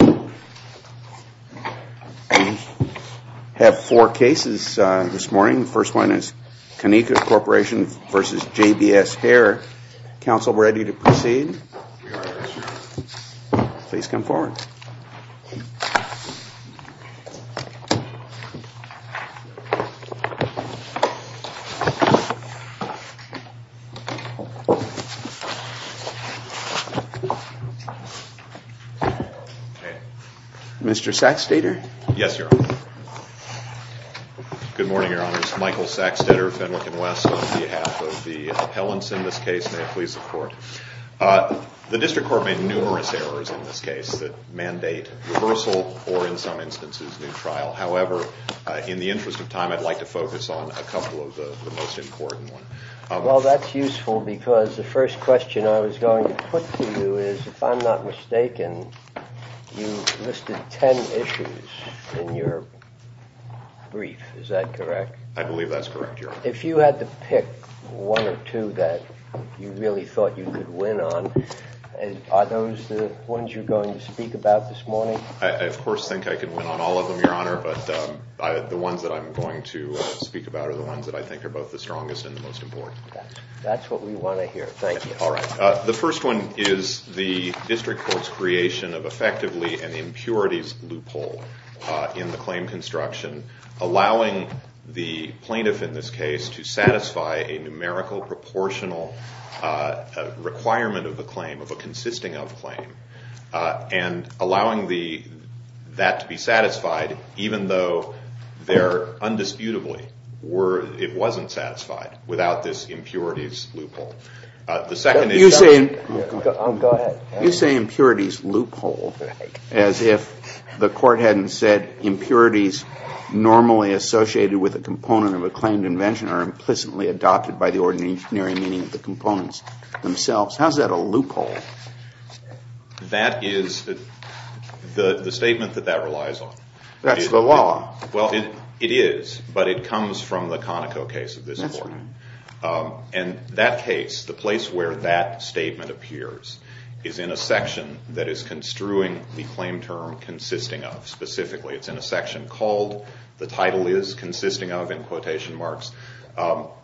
We have four cases this morning. The first one is Keneka Corporation v. JBS Hair. Council, ready to proceed? We are. Please come forward. Mr. Sacksteder? Yes, Your Honor. Good morning, Your Honor. This is Michael Sacksteder, Fenwick & Wess, on behalf of the appellants in this case. May it please the Court. The District Court made numerous errors in this case that mandate reversal or, in some instances, new trial. However, in the interest of time, I'd like to focus on a couple of the most important ones. Well, that's useful because the first question I was going to put to you is, if I'm not mistaken, you listed ten issues in your brief. Is that correct? I believe that's correct, Your Honor. If you had to pick one or two that you really thought you could win on, are those the ones you're going to speak about this morning? I, of course, think I could win on all of them, Your Honor, but the ones that I'm going to speak about are the ones that I think are both the strongest and the most important. That's what we want to hear. Thank you. All right. The first one is the District Court's creation of effectively an impurities loophole in the claim construction, allowing the plaintiff in this case to satisfy a numerical proportional requirement of the claim, of a consisting-of claim, and allowing that to be satisfied even though there undisputably were – it wasn't satisfied without this impurities loophole. I'll go ahead. You say impurities loophole as if the Court hadn't said impurities normally associated with a component of a claimed invention are implicitly adopted by the ordinary meaning of the components themselves. How is that a loophole? That is the statement that that relies on. That's the law. Well, it is, but it comes from the Conoco case of this Court. That's right. And that case, the place where that statement appears, is in a section that is construing the claim term consisting-of. Specifically, it's in a section called – the title is consisting-of in quotation marks.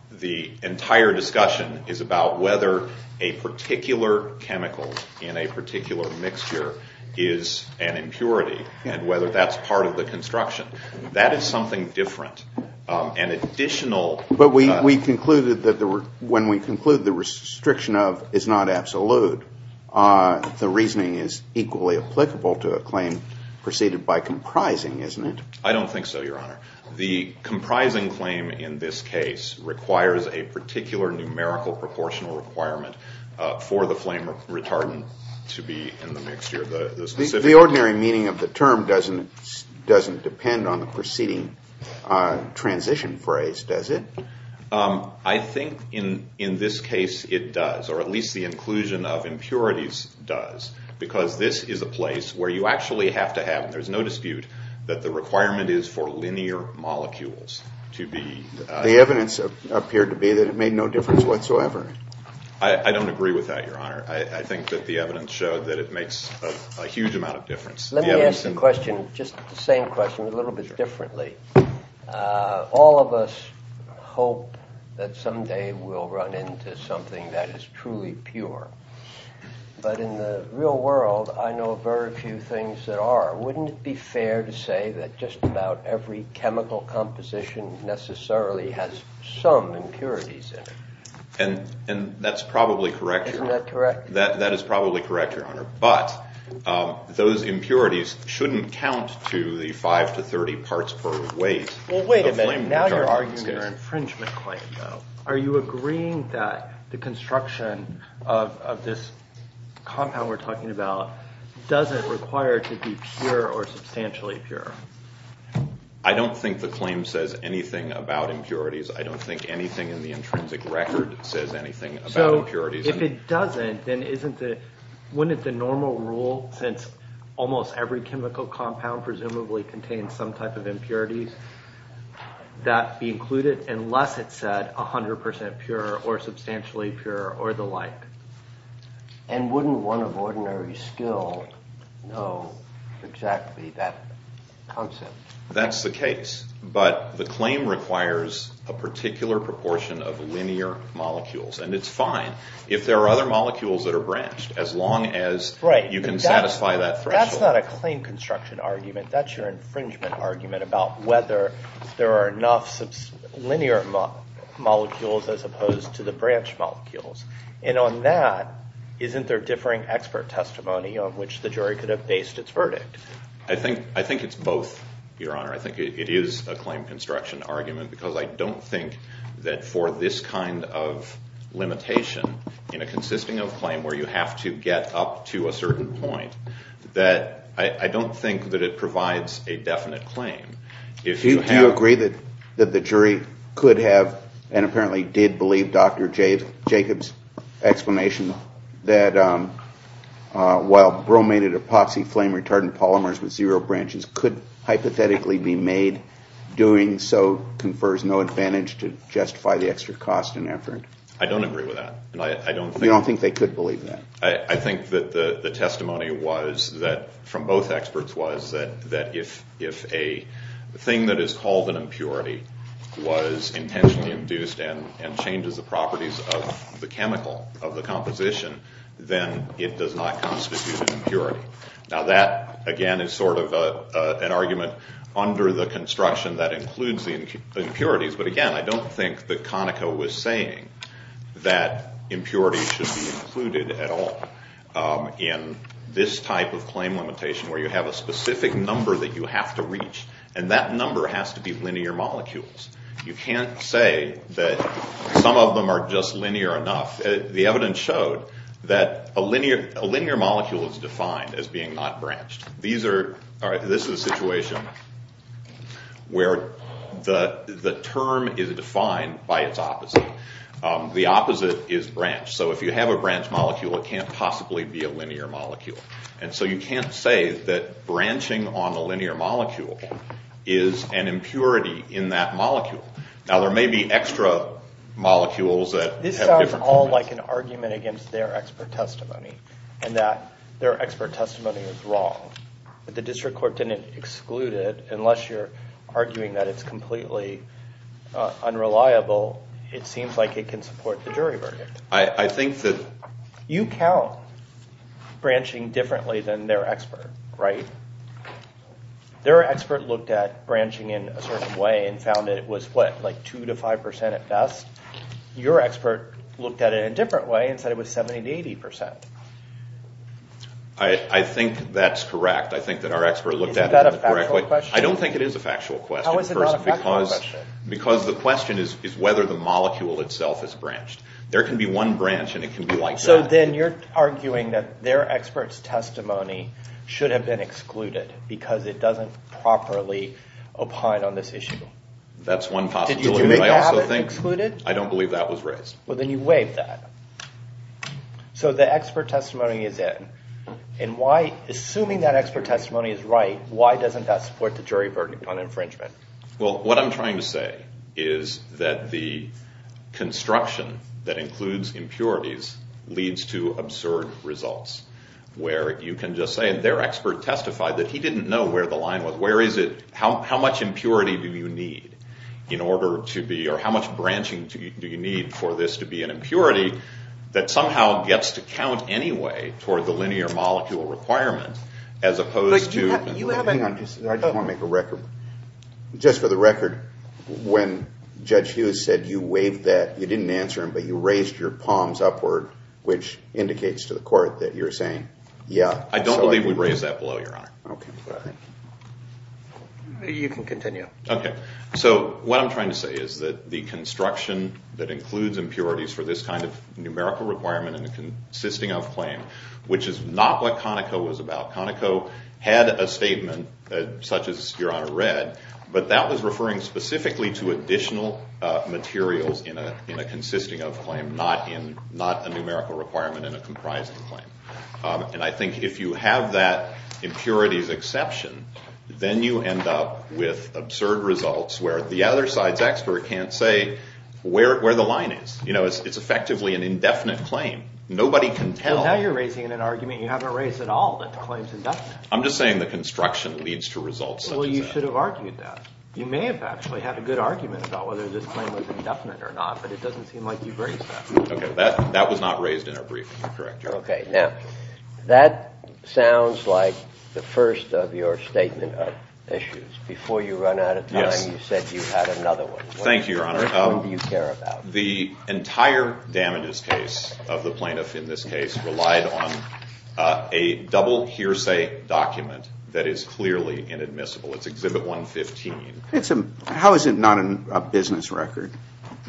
The entire discussion is about whether a particular chemical in a particular mixture is an impurity and whether that's part of the construction. That is something different. An additional – But we concluded that when we conclude the restriction-of is not absolute, the reasoning is equally applicable to a claim preceded by comprising, isn't it? I don't think so, Your Honor. The comprising claim in this case requires a particular numerical proportional requirement for the flame retardant to be in the mixture. The ordinary meaning of the term doesn't depend on the preceding transition phrase, does it? I think in this case it does, or at least the inclusion of impurities does, because this is a place where you actually have to have – and there's no dispute that the requirement is for linear molecules to be – The evidence appeared to be that it made no difference whatsoever. I think that the evidence showed that it makes a huge amount of difference. Let me ask the question, just the same question a little bit differently. All of us hope that someday we'll run into something that is truly pure, but in the real world I know very few things that are. Wouldn't it be fair to say that just about every chemical composition necessarily has some impurities in it? And that's probably correct, Your Honor. That is probably correct, Your Honor. But those impurities shouldn't count to the 5 to 30 parts per weight of flame retardant. Now you're arguing your infringement claim, though. Are you agreeing that the construction of this compound we're talking about doesn't require it to be pure or substantially pure? I don't think the claim says anything about impurities. I don't think anything in the intrinsic record says anything about impurities. If it doesn't, then wouldn't the normal rule, since almost every chemical compound presumably contains some type of impurities, that be included unless it said 100% pure or substantially pure or the like? And wouldn't one of ordinary skill know exactly that concept? That's the case, but the claim requires a particular proportion of linear molecules, and it's fine. If there are other molecules that are branched, as long as you can satisfy that threshold. That's not a claim construction argument. That's your infringement argument about whether there are enough linear molecules as opposed to the branch molecules. And on that, isn't there differing expert testimony on which the jury could have based its verdict? I think it's both, Your Honor. I think it is a claim construction argument because I don't think that for this kind of limitation, in a consisting of claim where you have to get up to a certain point, that I don't think that it provides a definite claim. Do you agree that the jury could have, and apparently did believe Dr. Jacobs' explanation, that while bromated epoxy flame retardant polymers with zero branches could hypothetically be made, doing so confers no advantage to justify the extra cost and effort? I don't agree with that. You don't think they could believe that? I think that the testimony from both experts was that if a thing that is called an impurity was intentionally induced and changes the properties of the chemical, of the composition, then it does not constitute an impurity. Now that, again, is sort of an argument under the construction that includes the impurities, but again, I don't think that Conoco was saying that impurities should be included at all in this type of claim limitation where you have a specific number that you have to reach, and that number has to be linear molecules. You can't say that some of them are just linear enough. The evidence showed that a linear molecule is defined as being not branched. This is a situation where the term is defined by its opposite. The opposite is branched. So if you have a branch molecule, it can't possibly be a linear molecule. So you can't say that branching on a linear molecule is an impurity in that molecule. Now there may be extra molecules that have different components. You had like an argument against their expert testimony and that their expert testimony was wrong, but the district court didn't exclude it unless you're arguing that it's completely unreliable. It seems like it can support the jury verdict. I think that— You count branching differently than their expert, right? Their expert looked at branching in a certain way and found it was what, like 2% to 5% at best. Your expert looked at it in a different way and said it was 70% to 80%. I think that's correct. I think that our expert looked at it in the correct way. Is that a factual question? I don't think it is a factual question. How is it not a factual question? Because the question is whether the molecule itself is branched. There can be one branch and it can be like that. So then you're arguing that their expert's testimony should have been excluded because it doesn't properly opine on this issue. That's one possibility. I don't believe that was raised. Well, then you waive that. So the expert testimony is in. Assuming that expert testimony is right, why doesn't that support the jury verdict on infringement? Well, what I'm trying to say is that the construction that includes impurities leads to absurd results where you can just say their expert testified that he didn't know where the line was. How much impurity do you need in order to be, or how much branching do you need for this to be an impurity that somehow gets to count anyway toward the linear molecule requirement as opposed to... Hang on. I just want to make a record. Just for the record, when Judge Hughes said you waived that, you didn't answer him, but you raised your palms upward, which indicates to the court that you're saying yeah. I don't believe we raised that below, Your Honor. Okay. You can continue. Okay. So what I'm trying to say is that the construction that includes impurities for this kind of numerical requirement in a consisting of claim, which is not what Conoco was about. Conoco had a statement such as Your Honor read, but that was referring specifically to additional materials in a consisting of claim, not a numerical requirement in a comprising claim. And I think if you have that impurities exception, then you end up with absurd results where the other side's expert can't say where the line is. You know, it's effectively an indefinite claim. Nobody can tell. Well, now you're raising an argument you haven't raised at all that the claim's indefinite. I'm just saying the construction leads to results such as that. Well, you should have argued that. You may have actually had a good argument about whether this claim was indefinite or not, but it doesn't seem like you've raised that. Okay. That was not raised in our briefing. Correct, Your Honor. Okay. Now, that sounds like the first of your statement of issues. Before you run out of time, you said you had another one. Thank you, Your Honor. What do you care about? The entire damages case of the plaintiff in this case relied on a double hearsay document that is clearly inadmissible. It's Exhibit 115. How is it not a business record?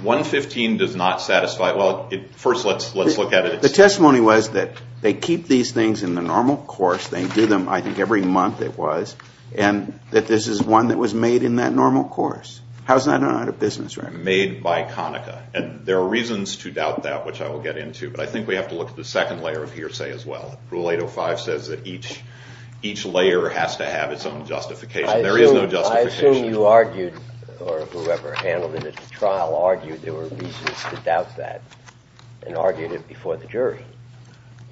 115 does not satisfy – well, first let's look at it. The testimony was that they keep these things in the normal course. They do them, I think, every month it was, and that this is one that was made in that normal course. How is that not a business record? Made by Conaca. And there are reasons to doubt that, which I will get into, but I think we have to look at the second layer of hearsay as well. Rule 805 says that each layer has to have its own justification. There is no justification. I assume you argued, or whoever handled it at the trial argued there were reasons to doubt that and argued it before the jury.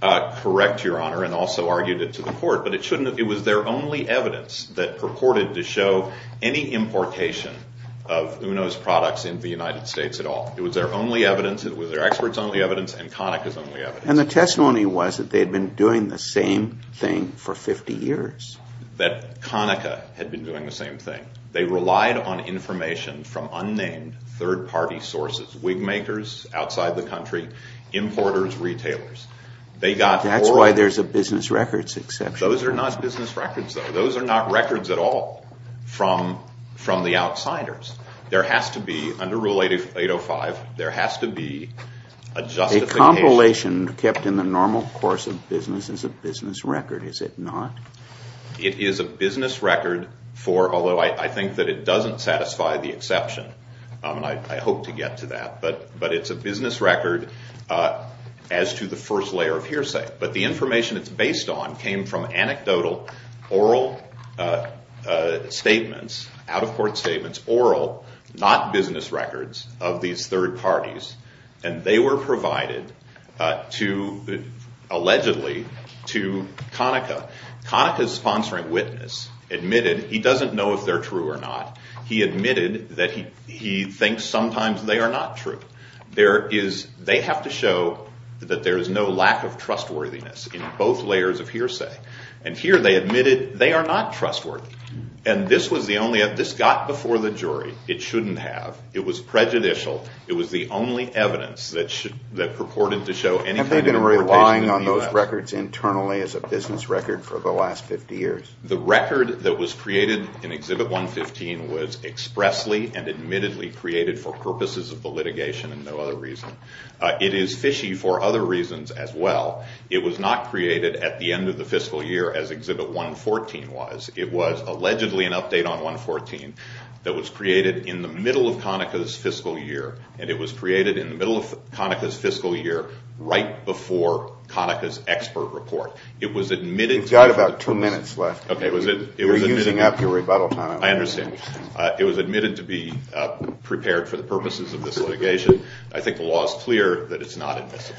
Correct, Your Honor, and also argued it to the court, but it was their only evidence that purported to show any importation of UNO's products in the United States at all. It was their only evidence, it was their experts' only evidence, and Conaca's only evidence. And the testimony was that they had been doing the same thing for 50 years. That Conaca had been doing the same thing. They relied on information from unnamed third-party sources, wig makers outside the country, importers, retailers. That's why there's a business records exception. Those are not business records, though. Those are not records at all from the outsiders. There has to be, under Rule 805, there has to be a justification. A compilation kept in the normal course of business is a business record, is it not? It is a business record for, although I think that it doesn't satisfy the exception, and I hope to get to that, but it's a business record as to the first layer of hearsay. But the information it's based on came from anecdotal oral statements, out-of-court statements, oral, not business records, of these third parties, and they were provided to, allegedly, to Conaca. Conaca's sponsoring witness admitted, he doesn't know if they're true or not, he admitted that he thinks sometimes they are not true. They have to show that there is no lack of trustworthiness in both layers of hearsay. And here they admitted they are not trustworthy. And this was the only, this got before the jury. It shouldn't have. It was prejudicial. It was the only evidence that purported to show any kind of importation to the U.S. Have they been relying on those records internally as a business record for the last 50 years? The record that was created in Exhibit 115 was expressly and admittedly created for purposes of the litigation and no other reason. It is fishy for other reasons as well. It was not created at the end of the fiscal year as Exhibit 114 was. It was allegedly an update on 114 that was created in the middle of Conaca's fiscal year, and it was created in the middle of Conaca's fiscal year right before Conaca's expert report. We've got about two minutes left. You're using up your rebuttal time. I understand. It was admitted to be prepared for the purposes of this litigation. I think the law is clear that it's not admissible.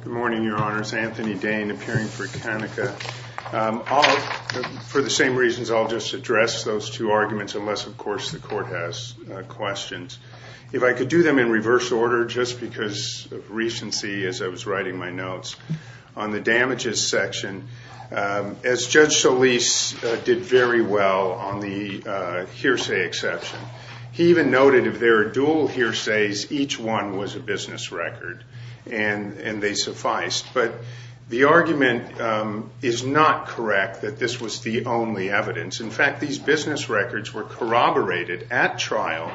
Good morning, Your Honors. Anthony Dane, appearing for Conaca. For the same reasons, I'll just address those two arguments unless, of course, the court has questions. If I could do them in reverse order, just because of recency as I was writing my notes, on the damages section, as Judge Solis did very well on the hearsay exception, he even noted if there are dual hearsays, each one was a business record, and they sufficed. But the argument is not correct that this was the only evidence. In fact, these business records were corroborated at trial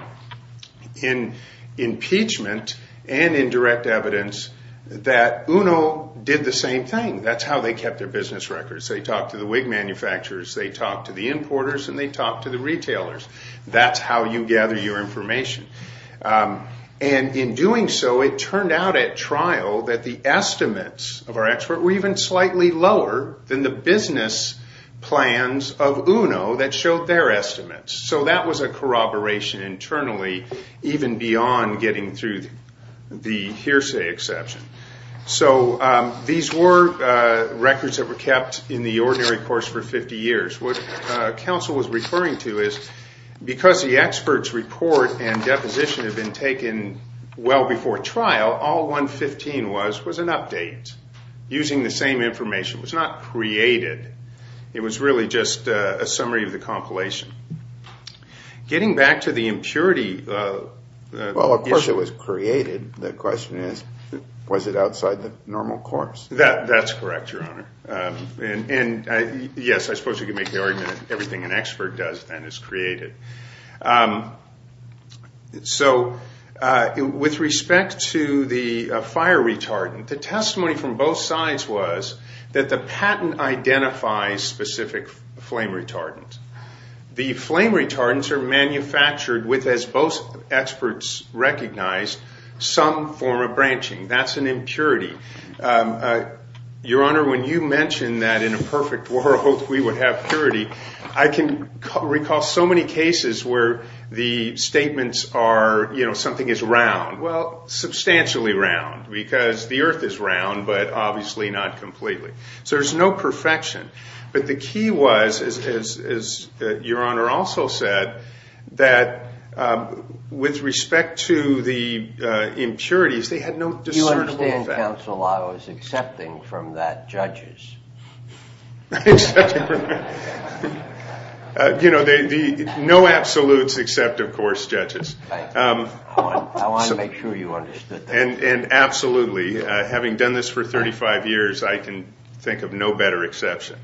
in impeachment and in direct evidence that UNO did the same thing. That's how they kept their business records. They talked to the wig manufacturers. They talked to the importers, and they talked to the retailers. That's how you gather your information. In doing so, it turned out at trial that the estimates of our expert were even slightly lower than the business plans of UNO that showed their estimates. That was a corroboration internally, even beyond getting through the hearsay exception. These were records that were kept in the ordinary course for 50 years. What counsel was referring to is because the expert's report and deposition had been taken well before trial, all 115 was was an update using the same information. It was not created. It was really just a summary of the compilation. Getting back to the impurity issue. Well, of course it was created. The question is, was it outside the normal course? That's correct, Your Honor. Yes, I suppose you could make the argument that everything an expert does, then, is created. With respect to the fire retardant, the testimony from both sides was that the patent identifies specific flame retardants. The flame retardants are manufactured with, as both experts recognized, some form of branching. That's an impurity. Your Honor, when you mentioned that in a perfect world we would have purity, I can recall so many cases where the statements are, you know, something is round. Well, substantially round, because the earth is round, but obviously not completely. So there's no perfection. But the key was, as Your Honor also said, that with respect to the impurities, they had no discernible effect. The only counsel I was accepting from that, judges. You know, no absolutes except, of course, judges. I want to make sure you understood that. Absolutely. Having done this for 35 years, I can think of no better exception.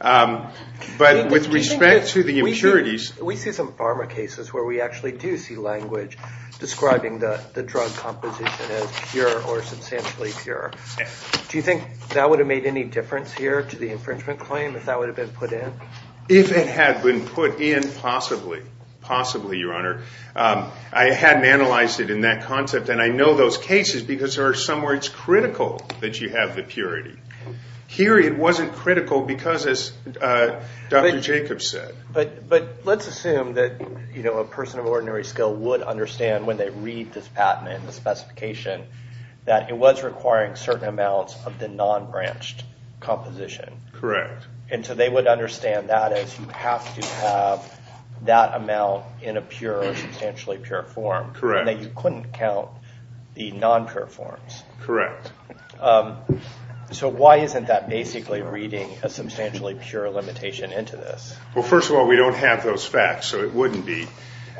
But with respect to the impurities. We see some pharma cases where we actually do see language describing the drug composition as pure or substantially pure. Do you think that would have made any difference here to the infringement claim if that would have been put in? If it had been put in, possibly. Possibly, Your Honor. I hadn't analyzed it in that concept, and I know those cases because there are some where it's critical that you have the purity. Here it wasn't critical because, as Dr. Jacobs said. But let's assume that a person of ordinary skill would understand when they read this patent and the specification that it was requiring certain amounts of the non-branched composition. Correct. And so they would understand that as you have to have that amount in a pure or substantially pure form. Correct. And that you couldn't count the non-pure forms. Correct. So why isn't that basically reading a substantially pure limitation into this? Well, first of all, we don't have those facts, so it wouldn't be.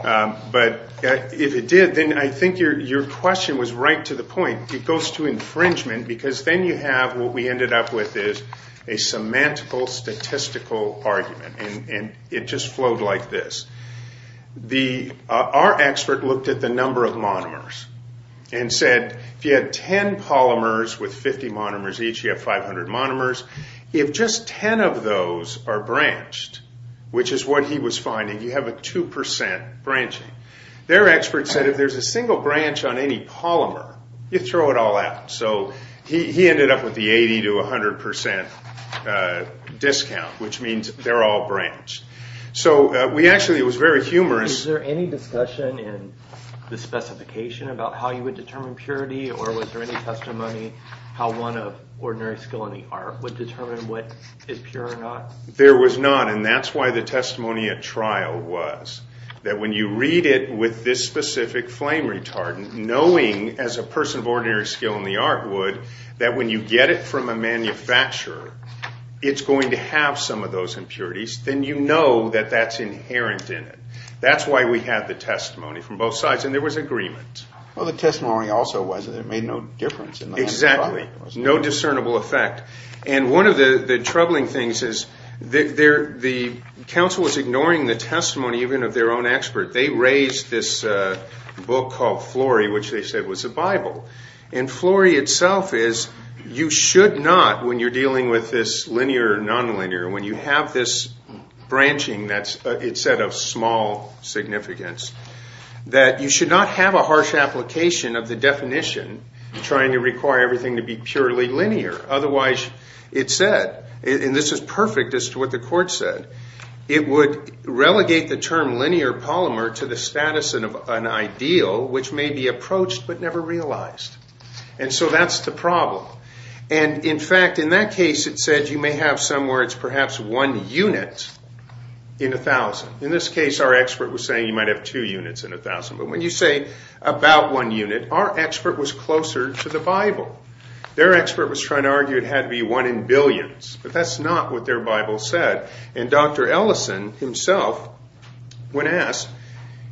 But if it did, then I think your question was right to the point. It goes to infringement because then you have what we ended up with is a semantical statistical argument. And it just flowed like this. Our expert looked at the number of monomers and said if you had 10 polymers with 50 monomers each, you have 500 monomers. If just 10 of those are branched, which is what he was finding, you have a 2% branching. Their expert said if there's a single branch on any polymer, you throw it all out. So he ended up with the 80 to 100% discount, which means they're all branched. So we actually, it was very humorous. Was there any discussion in the specification about how you would determine purity? Or was there any testimony how one of ordinary skill in the art would determine what is pure or not? There was none. And that's why the testimony at trial was that when you read it with this specific flame retardant, knowing as a person of ordinary skill in the art would that when you get it from a manufacturer, it's going to have some of those impurities, then you know that that's inherent in it. That's why we had the testimony from both sides. And there was agreement. Well, the testimony also was that it made no difference. Exactly. No discernible effect. And one of the troubling things is the counsel was ignoring the testimony even of their own expert. They raised this book called Flory, which they said was a Bible. And Flory itself is you should not, when you're dealing with this linear or nonlinear, when you have this branching that it said of small significance, that you should not have a harsh application of the definition trying to require everything to be purely linear. Otherwise, it said, and this is perfect as to what the court said, it would relegate the term linear polymer to the status of an ideal which may be approached but never realized. And so that's the problem. And in fact, in that case, it said you may have somewhere it's perhaps one unit in a thousand. In this case, our expert was saying you might have two units in a thousand. But when you say about one unit, our expert was closer to the Bible. Their expert was trying to argue it had to be one in billions. But that's not what their Bible said. And Dr. Ellison himself, when asked,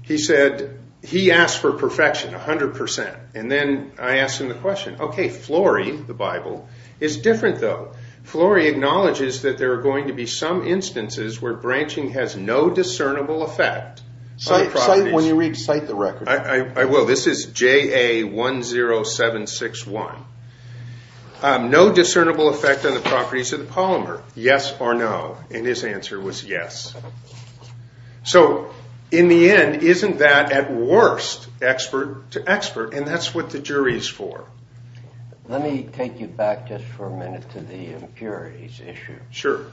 he said he asked for perfection 100%. And then I asked him the question, OK, Flory, the Bible is different, though. Flory acknowledges that there are going to be some instances where branching has no discernible effect. So when you read, cite the record, I will. This is J.A. 1 0 7 6 1. No discernible effect on the properties of the polymer. Yes or no. And his answer was yes. So in the end, isn't that at worst expert to expert? And that's what the jury is for. Let me take you back just for a minute to the impurities issue. Sure.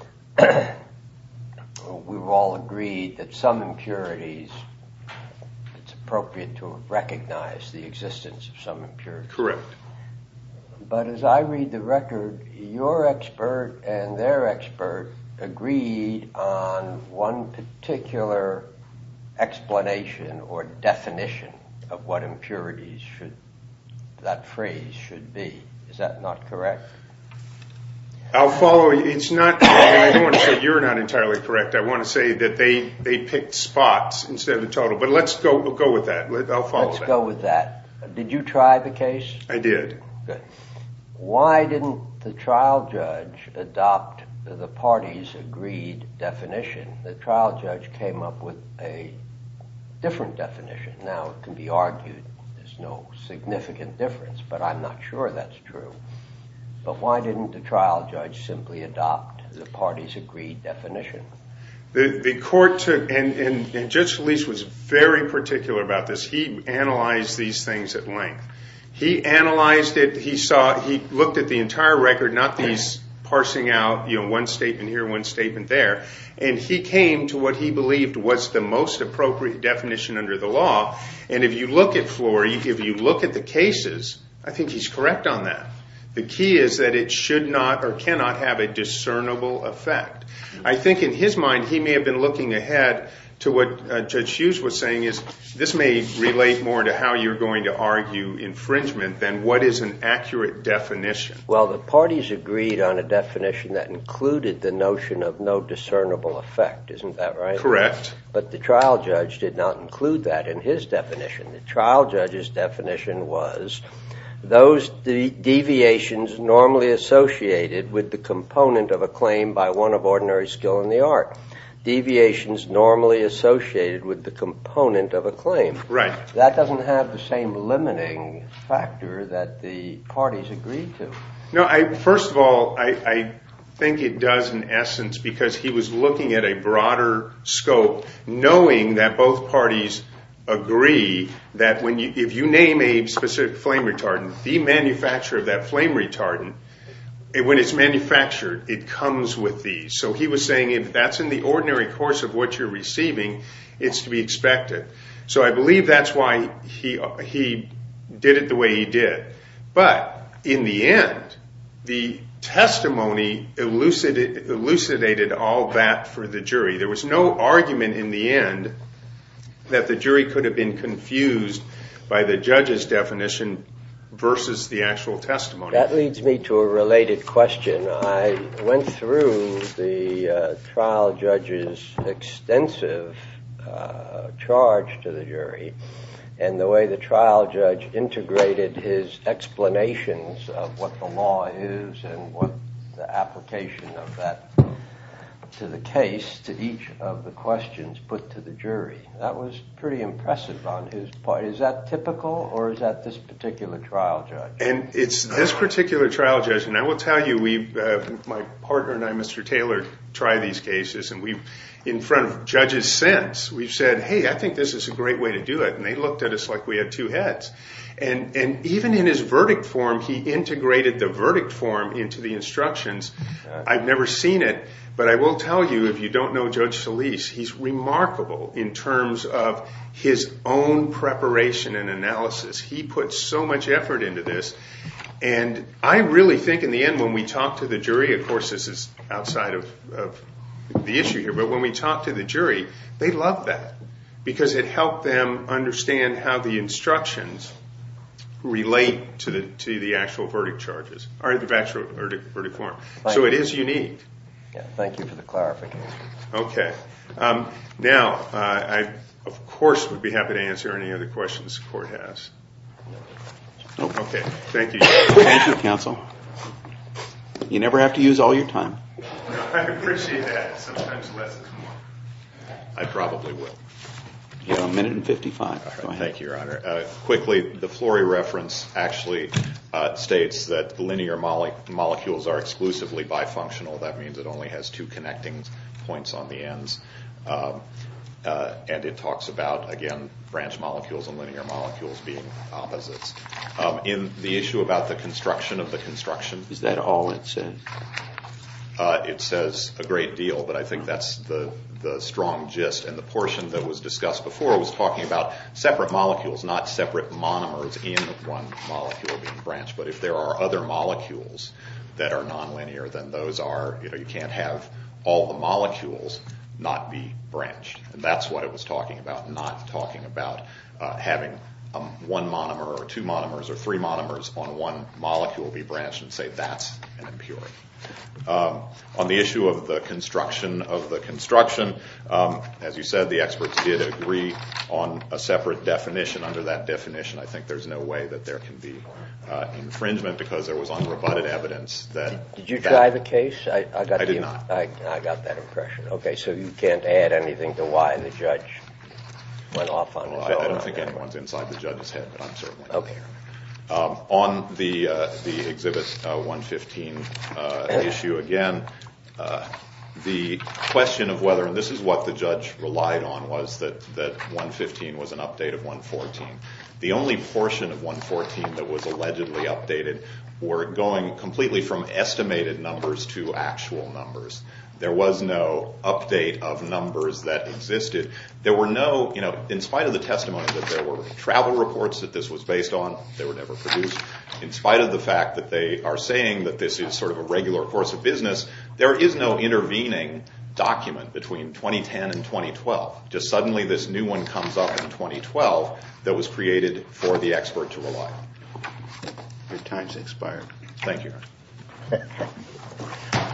We've all agreed that some impurities, it's appropriate to recognize the existence of some impurities. Correct. But as I read the record, your expert and their expert agreed on one particular explanation or definition of what impurities should that phrase should be. Is that not correct? I'll follow. It's not. You're not entirely correct. I want to say that they they picked spots instead of the total. But let's go. We'll go with that. I'll follow. Let's go with that. Did you try the case? I did. Good. Why didn't the trial judge adopt the party's agreed definition? The trial judge came up with a different definition. Now, it can be argued there's no significant difference, but I'm not sure that's true. But why didn't the trial judge simply adopt the party's agreed definition? The court took and Judge Felice was very particular about this. He analyzed these things at length. He analyzed it. He looked at the entire record, not these parsing out, you know, one statement here, one statement there. And he came to what he believed was the most appropriate definition under the law. And if you look at Flory, if you look at the cases, I think he's correct on that. The key is that it should not or cannot have a discernible effect. I think in his mind he may have been looking ahead to what Judge Hughes was saying is this may relate more to how you're going to argue infringement than what is an accurate definition. Well, the parties agreed on a definition that included the notion of no discernible effect. Isn't that right? Correct. But the trial judge did not include that in his definition. The trial judge's definition was those deviations normally associated with the component of a claim by one of ordinary skill in the art. Deviations normally associated with the component of a claim. Right. That doesn't have the same limiting factor that the parties agreed to. No, first of all, I think it does in essence because he was looking at a broader scope, knowing that both parties agree that if you name a specific flame retardant, the manufacturer of that flame retardant, when it's manufactured, it comes with these. So he was saying if that's in the ordinary course of what you're receiving, it's to be expected. So I believe that's why he did it the way he did. But in the end, the testimony elucidated all that for the jury. There was no argument in the end that the jury could have been confused by the judge's definition versus the actual testimony. That leads me to a related question. I went through the trial judge's extensive charge to the jury and the way the trial judge integrated his explanations of what the law is and what the application of that to the case to each of the questions put to the jury. That was pretty impressive on his part. Is that typical or is that this particular trial judge? And it's this particular trial judge. And I will tell you, my partner and I, Mr. Taylor, try these cases. And in front of judges since, we've said, hey, I think this is a great way to do it. And they looked at us like we had two heads. And even in his verdict form, he integrated the verdict form into the instructions. I've never seen it, but I will tell you, if you don't know Judge Solis, he's remarkable in terms of his own preparation and analysis. He put so much effort into this. And I really think in the end when we talk to the jury, of course this is outside of the issue here, but when we talk to the jury, they love that because it helped them understand how the instructions relate to the actual verdict charges or the actual verdict form. So it is unique. Thank you for the clarification. Okay. Now, I, of course, would be happy to answer any other questions the court has. Okay. Thank you. Thank you, counsel. You never have to use all your time. I appreciate that. Sometimes less is more. I probably would. You have a minute and 55. Thank you, Your Honor. Quickly, the Flory reference actually states that the linear molecules are exclusively bifunctional. That means it only has two connecting points on the ends. And it talks about, again, branch molecules and linear molecules being opposites. In the issue about the construction of the construction. Is that all it said? It says a great deal, but I think that's the strong gist. And the portion that was discussed before was talking about separate molecules, not separate monomers in one molecule being branched. But if there are other molecules that are nonlinear, then those are, you know, have all the molecules not be branched. And that's what it was talking about. Not talking about having one monomer or two monomers or three monomers on one molecule be branched and say that's an impurity. On the issue of the construction of the construction, as you said, the experts did agree on a separate definition. Under that definition, I think there's no way that there can be infringement because there was unrebutted evidence that that. Did you try the case? I did not. I got that impression. Okay, so you can't add anything to why the judge went off on his own. I don't think anyone's inside the judge's head, but I'm certainly not there. On the Exhibit 115 issue again, the question of whether, and this is what the judge relied on was that 115 was an update of 114. The only portion of 114 that was allegedly updated were going completely from estimated numbers to actual numbers. There was no update of numbers that existed. There were no, you know, in spite of the testimony that there were travel reports that this was based on, they were never produced. In spite of the fact that they are saying that this is sort of a regular course of business, there is no intervening document between 2010 and 2012. Just suddenly this new one comes up in 2012 that was created for the expert to rely on. Your time's expired. Thank you.